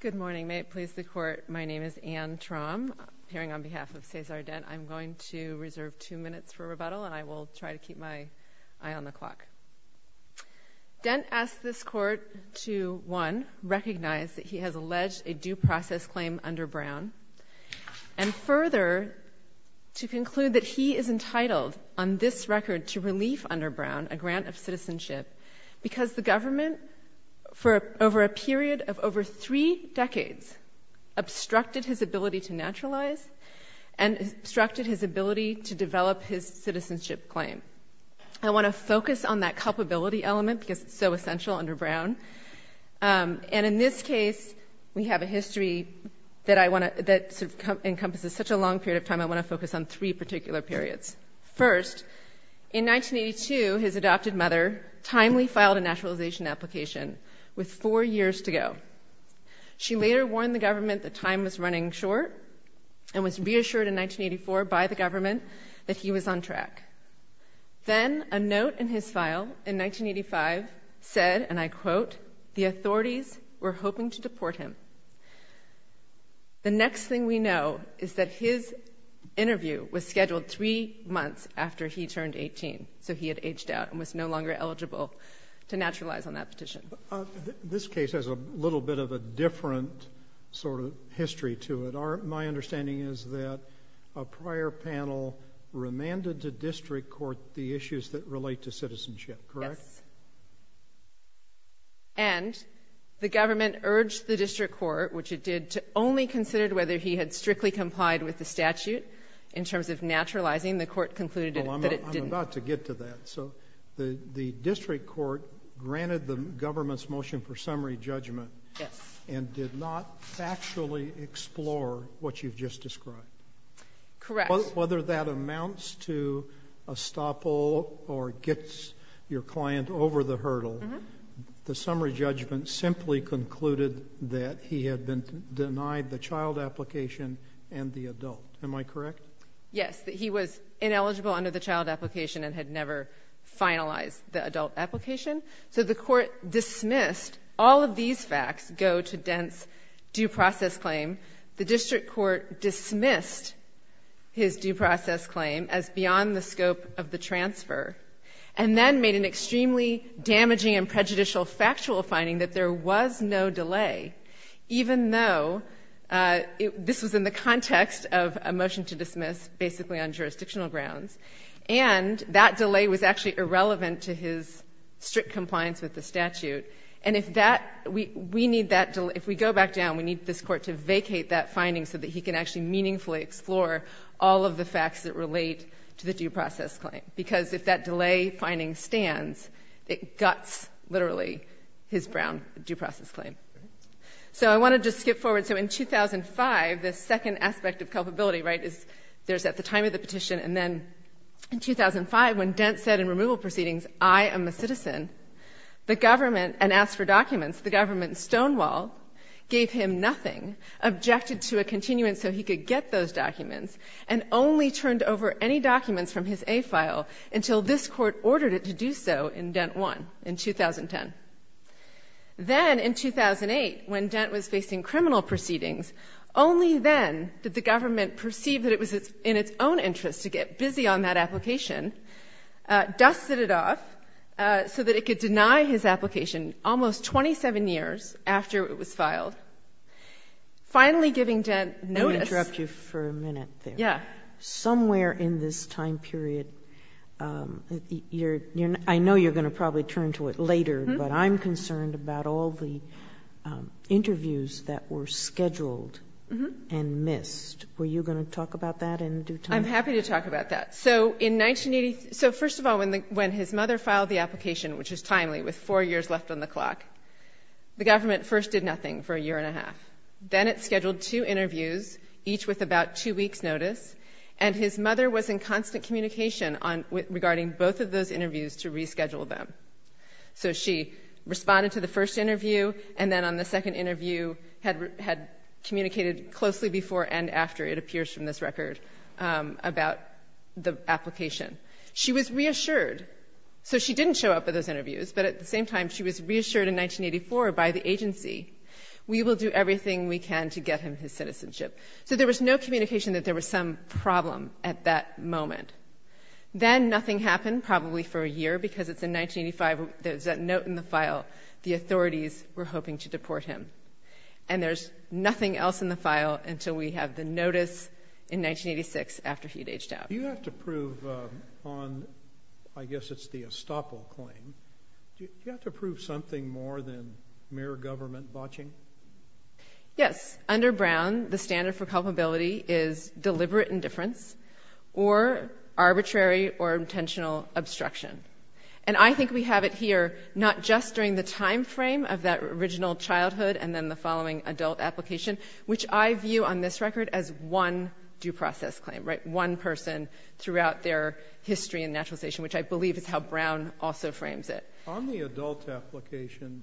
Good morning. May it please the Court, my name is Anne Traum, appearing on behalf of Cesar Dent. I'm going to reserve two minutes for rebuttal, and I will try to keep my eye on the clock. Dent asked this Court to, one, recognize that he has alleged a due process claim under Brown, and further, to conclude that he is entitled on this record to relief under Brown a grant of citizenship because the government, for over a period of over three decades, obstructed his ability to naturalize and obstructed his ability to develop his citizenship claim. I want to focus on that culpability element because it's so essential under Brown. And in this case, we have a history that encompasses such a long period of time, I want to focus on three particular periods. First, in 1982, his adopted mother timely filed a naturalization application with four years to go. She later warned the government that time was running short and was reassured in 1984 by the government that he was on track. Then a note in his file in 1985 said, and I quote, the authorities were hoping to deport him. The next thing we know is that his interview was scheduled three months after he turned 18, so he had aged out and was no longer eligible to naturalize on that petition. This case has a little bit of a different sort of history to it. My understanding is that a prior panel remanded to district court the issues that relate to citizenship, correct? Yes. And the government urged the district court, which it did, to only consider whether he had strictly complied with the statute in terms of naturalizing. The court concluded that it didn't. Well, I'm about to get to that. So the district court granted the government's motion for summary judgment. Yes. And did not factually explore what you've just described. Correct. Whether that amounts to estoppel or gets your client over the hurdle, the summary judgment simply concluded that he had been denied the child application and the adult. Am I correct? Yes, that he was ineligible under the child application and had never finalized the adult application. So the court dismissed all of these facts go to Dent's due process claim. The district court dismissed his due process claim as beyond the scope of the transfer and then made an extremely damaging and prejudicial factual finding that there was no delay, even though this was in the context of a motion to dismiss basically on jurisdictional grounds. And that delay was actually irrelevant to his strict compliance with the statute. And if that we need that, if we go back down, we need this court to vacate that finding so that he can actually meaningfully explore all of the facts that relate to the due process claim, because if that delay finding stands, it guts literally his Brown due process claim. So I want to just skip forward. So in 2005, the second aspect of culpability, right, is there's at the time of the petition and then in 2005 when Dent said in removal proceedings, I am a citizen, the government, and asked for documents, the government stonewalled, gave him nothing, objected to a continuance so he could get those documents, and only turned over any documents from his A file until this Court ordered it to do so in Dent 1 in 2010. Then in 2008, when Dent was facing criminal proceedings, only then did the government perceive that it was in its own interest to get busy on that application, dusted it off so that it could deny his application almost 27 years after it was filed, finally giving Dent notice. Kagan. Let me interrupt you for a minute there. Yeah. Somewhere in this time period, I know you're going to probably turn to it later, but I'm concerned about all the interviews that were scheduled and missed. Were you going to talk about that in due time? I'm happy to talk about that. So in 1980, so first of all, when his mother filed the application, which is timely with four years left on the clock, the government first did nothing for a year and a half. Then it scheduled two interviews, each with about two weeks' notice, and his mother was in constant communication regarding both of those interviews to reschedule them. So she responded to the first interview, and then on the second interview had communicated closely before and after it appears from this record about the application. She was reassured. So she didn't show up at those interviews, but at the same time she was reassured in 1984 by the agency, we will do everything we can to get him his citizenship. So there was no communication that there was some problem at that moment. Then nothing happened, probably for a year, because it's in 1985, there's that note in the file, the authorities were hoping to deport him. And there's nothing else in the file until we have the notice in 1986 after he'd aged out. Do you have to prove on, I guess it's the estoppel claim, do you have to prove something more than mere government botching? Yes. Under Brown, the standard for culpability is deliberate indifference or arbitrary or intentional obstruction. And I think we have it here not just during the time frame of that original childhood and then the following adult application, which I view on this record as one due process claim, right, one person throughout their history in naturalization, which I believe is how Brown also frames it. On the adult application,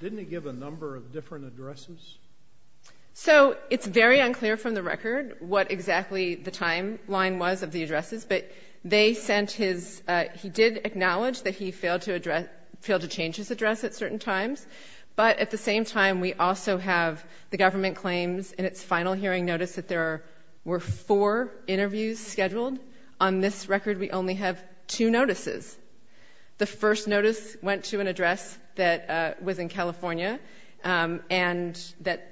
didn't it give a number of different addresses? So it's very unclear from the record what exactly the timeline was of the addresses, but they sent his — he did acknowledge that he failed to address — failed to change his address at certain times. But at the same time, we also have the government claims in its final hearing notice that there were four interviews scheduled. On this record, we only have two notices. The first notice went to an address that was in California and that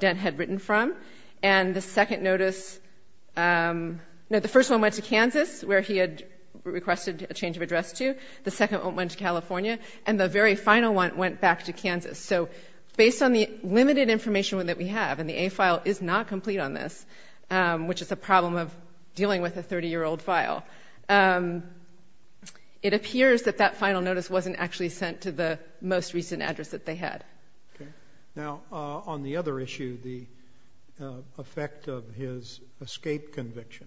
Dent had written from. And the second notice — no, the first one went to Kansas, where he had requested a change of address to. The second one went to California. And the very final one went back to Kansas. So based on the limited information that we have, and the A file is not complete on this, which is a problem of dealing with a 30-year-old file, it appears that that final notice wasn't actually sent to the most recent address that they had. Okay. Now, on the other issue, the effect of his escape conviction,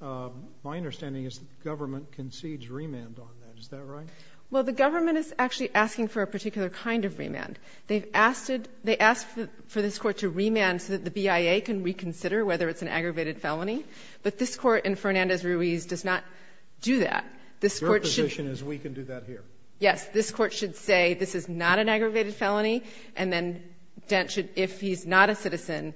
my understanding is that the government concedes remand on that. Is that right? Well, the government is actually asking for a particular kind of remand. They've asked it — they asked for this Court to remand so that the BIA can reconsider whether it's an aggravated felony. But this Court in Fernandez-Ruiz does not do that. This Court should — Your position is we can do that here. Yes. This Court should say this is not an aggravated felony, and then Dent should — if he's not a citizen,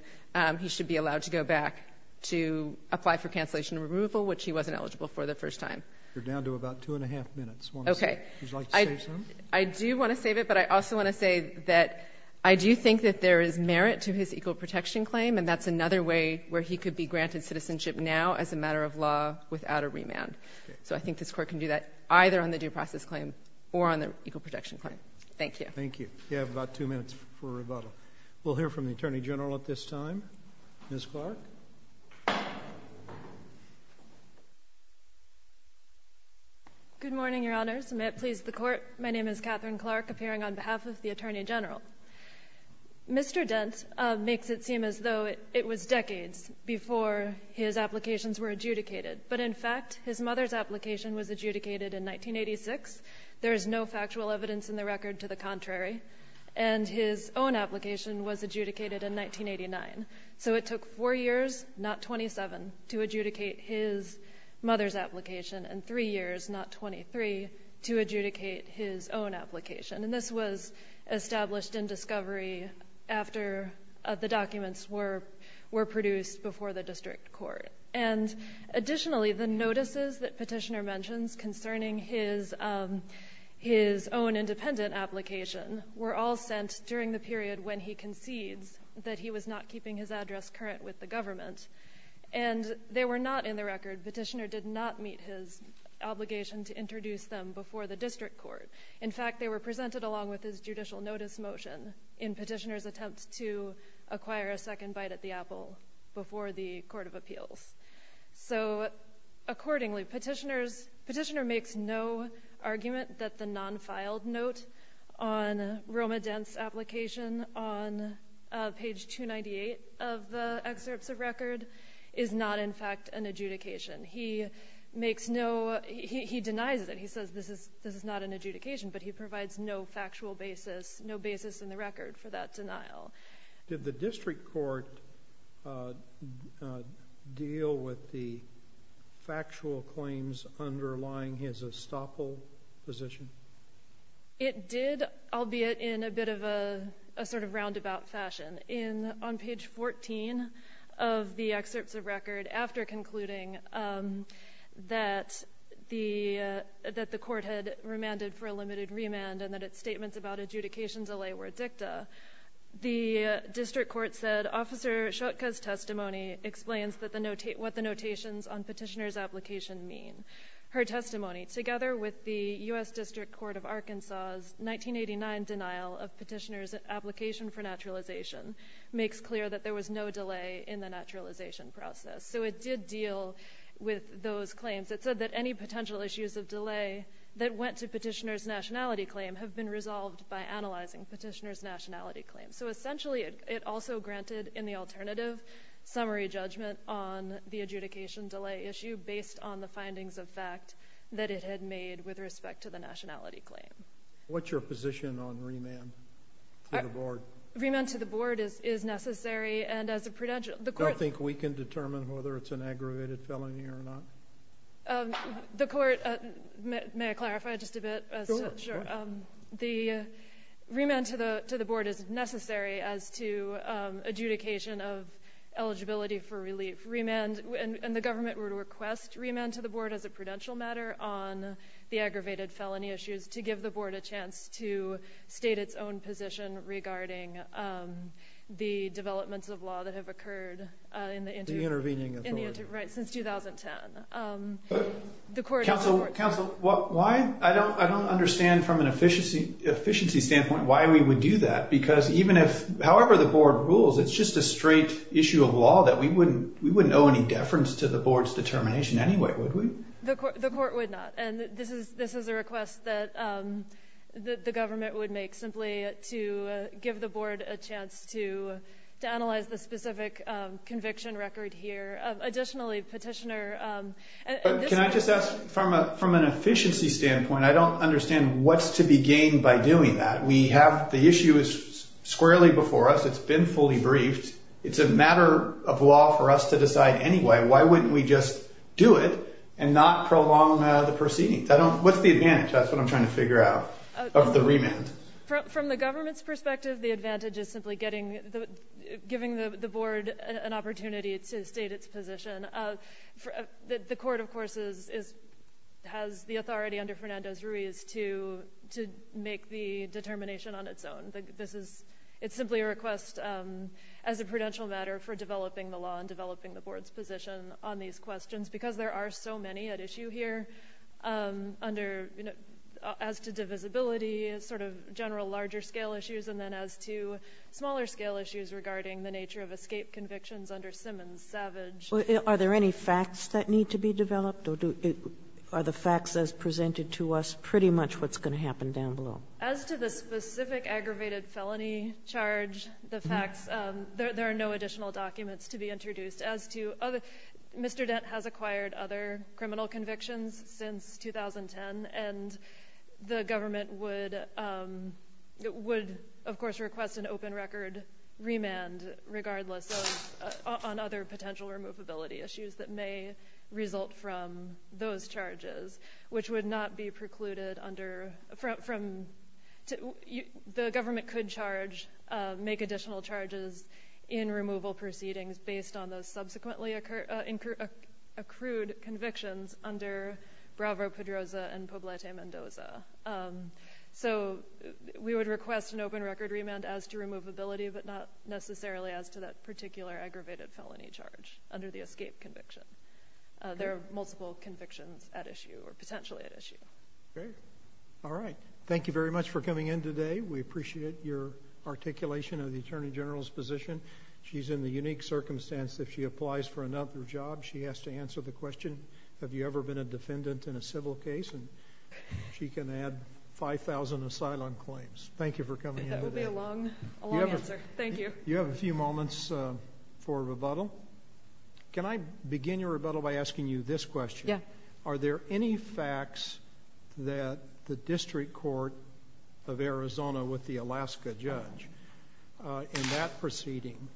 he should be allowed to go back to apply for cancellation removal, which he wasn't eligible for the first time. You're down to about two and a half minutes. Okay. Would you like to save some? I do want to save it, but I also want to say that I do think that there is merit to his equal protection claim, and that's another way where he could be granted citizenship now as a matter of law without a remand. So I think this Court can do that either on the due process claim or on the equal protection claim. Thank you. Thank you. You have about two minutes for rebuttal. We'll hear from the Attorney General at this time. Ms. Clark. Good morning, Your Honors. May it please the Court. My name is Catherine Clark, appearing on behalf of the Attorney General. Mr. Dent makes it seem as though it was decades before his applications were adjudicated. But in fact, his mother's application was adjudicated in 1986. There is no factual evidence in the record to the contrary. And his own application was adjudicated in 1989. So it took 4 years, not 27, to adjudicate his mother's application, and 3 years, not 23, to adjudicate his own application. And this was established in discovery after the documents were produced before the district court. And additionally, the notices that Petitioner mentions concerning his own independent application were all sent during the period when he concedes that he was not keeping his address current with the government. And they were not in the record. Petitioner did not meet his obligation to introduce them before the district court. In fact, they were presented along with his judicial notice motion in Petitioner's attempt to acquire a second bite at the apple before the Court of Appeals. So accordingly, Petitioner makes no argument that the non-filed note on Roma Dent's application on page 298 of the excerpts of record is not, in fact, an adjudication. He denies it. He says this is not an adjudication, but he provides no factual basis, no basis in the record for that denial. Did the district court deal with the factual claims underlying his estoppel position? It did, albeit in a bit of a sort of roundabout fashion. On page 14 of the excerpts of record, after concluding that the court had remanded for a limited remand and that its statements about adjudication delay were dicta, the district court said, Officer Schutka's testimony explains what the notations on Petitioner's application mean. Her testimony, together with the U.S. District Court of Arkansas' 1989 denial of Petitioner's application for naturalization, makes clear that there was no delay in the naturalization process. So it did deal with those claims. It said that any potential issues of delay that went to Petitioner's nationality claim have been resolved by analyzing Petitioner's nationality claim. So, essentially, it also granted in the alternative summary judgment on the adjudication delay issue based on the findings of fact that it had made with respect to the nationality claim. What's your position on remand to the board? Remand to the board is necessary. I don't think we can determine whether it's an aggravated felony or not. The court, may I clarify just a bit? Sure. The remand to the board is necessary as to adjudication of eligibility for relief. And the government would request remand to the board as a prudential matter on the aggravated felony issues to give the board a chance to state its own position regarding the developments of law that have occurred in the interim. The intervening authority. Right, since 2010. Counsel, why? I don't understand from an efficiency standpoint why we would do that because even if, however the board rules, it's just a straight issue of law that we wouldn't owe any deference to the board's determination anyway, would we? The court would not. And this is a request that the government would make simply to give the board a chance to analyze the specific conviction record here. Additionally, Petitioner. Can I just ask from an efficiency standpoint, I don't understand what's to be gained by doing that. The issue is squarely before us. It's been fully briefed. It's a matter of law for us to decide anyway. Why wouldn't we just do it and not prolong the proceedings? What's the advantage? That's what I'm trying to figure out of the remand. From the government's perspective, the advantage is simply giving the board an opportunity to state its position. The court, of course, has the authority under Fernandez-Ruiz to make the determination on its own. It's simply a request as a prudential matter for developing the law and developing the board's position on these questions, because there are so many at issue here under, you know, as to divisibility, sort of general larger-scale issues, and then as to smaller-scale issues regarding the nature of escape convictions under Simmons-Savage. Are there any facts that need to be developed? Are the facts as presented to us pretty much what's going to happen down below? As to the specific aggravated felony charge, the facts, there are no additional documents to be introduced. As to other, Mr. Dent has acquired other criminal convictions since 2010, and the government would, of course, request an open record remand, regardless of, on other potential removability issues that may result from those charges, which would not be precluded under from, the government could charge, make additional charges in removal proceedings based on those subsequently accrued convictions under Bravo-Pedroza and Poblete-Mendoza. So we would request an open record remand as to removability, but not necessarily as to that particular aggravated felony charge under the escape conviction. There are multiple convictions at issue, or potentially at issue. Great. All right. Thank you very much for coming in today. We appreciate your articulation of the Attorney General's position. She's in the unique circumstance that if she applies for another job, she has to answer the question, have you ever been a defendant in a civil case? And she can add 5,000 asylum claims. Thank you for coming out today. That will be a long answer. Thank you. You have a few moments for rebuttal. Can I begin your rebuttal by asking you this question? Yeah. Are there any facts that the district court of Arizona with the Alaska judge in that proceeding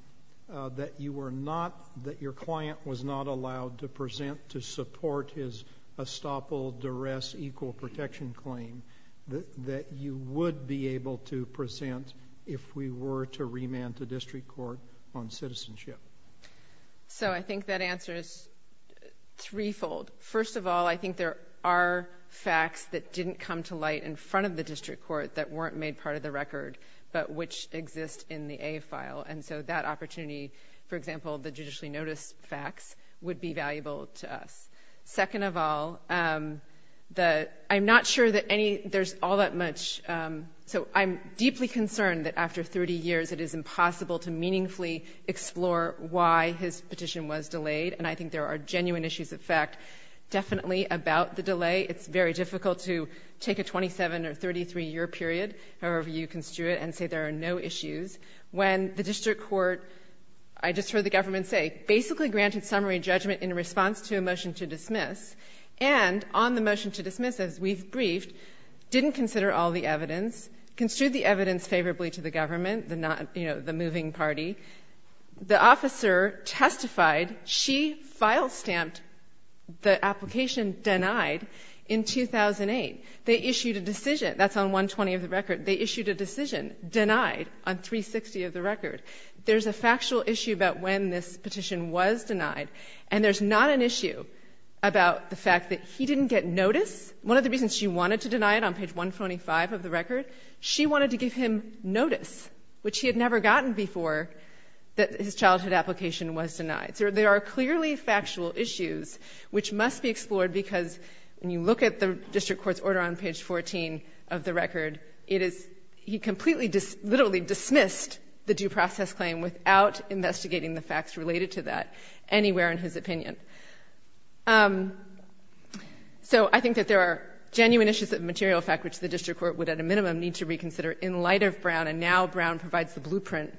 that you were not, that your client was not allowed to present to support his estoppel duress equal protection claim that you would be able to present if we were to remand the district court on citizenship? So I think that answer is threefold. First of all, I think there are facts that didn't come to light in front of the district court that weren't made part of the record, but which exist in the A file. And so that opportunity, for example, the judicially noticed facts, would be valuable to us. Second of all, I'm not sure that any, there's all that much, so I'm deeply concerned that after 30 years, it is impossible to meaningfully explore why his petition was delayed. And I think there are genuine issues of fact definitely about the delay. It's very difficult to take a 27 or 33-year period, however you construe it, and say there are no issues. When the district court, I just heard the government say, basically granted summary judgment in response to a motion to dismiss, and on the motion to dismiss, as we've briefed, didn't consider all the evidence, construed the evidence favorably to the application denied in 2008. They issued a decision. That's on 120 of the record. They issued a decision denied on 360 of the record. There's a factual issue about when this petition was denied, and there's not an issue about the fact that he didn't get notice. One of the reasons she wanted to deny it on page 125 of the record, she wanted to give him notice, which he had never gotten before, that his childhood application was denied. So there are clearly factual issues which must be explored, because when you look at the district court's order on page 14 of the record, it is he completely literally dismissed the due process claim without investigating the facts related to that anywhere in his opinion. So I think that there are genuine issues of material fact which the district court would at a minimum need to reconsider in light of Brown, and now Brown provides the blueprint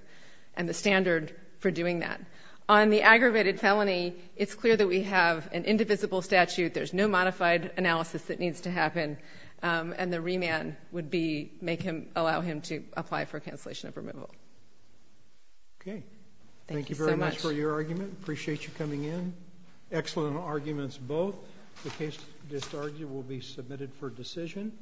and the standard for doing that. On the aggravated felony, it's clear that we have an indivisible statute. There's no modified analysis that needs to happen, and the remand would be make him allow him to apply for a cancellation of removal. Thank you so much. Thank you very much for your argument. Appreciate you coming in. Excellent arguments both. The case just argued will be submitted for decision.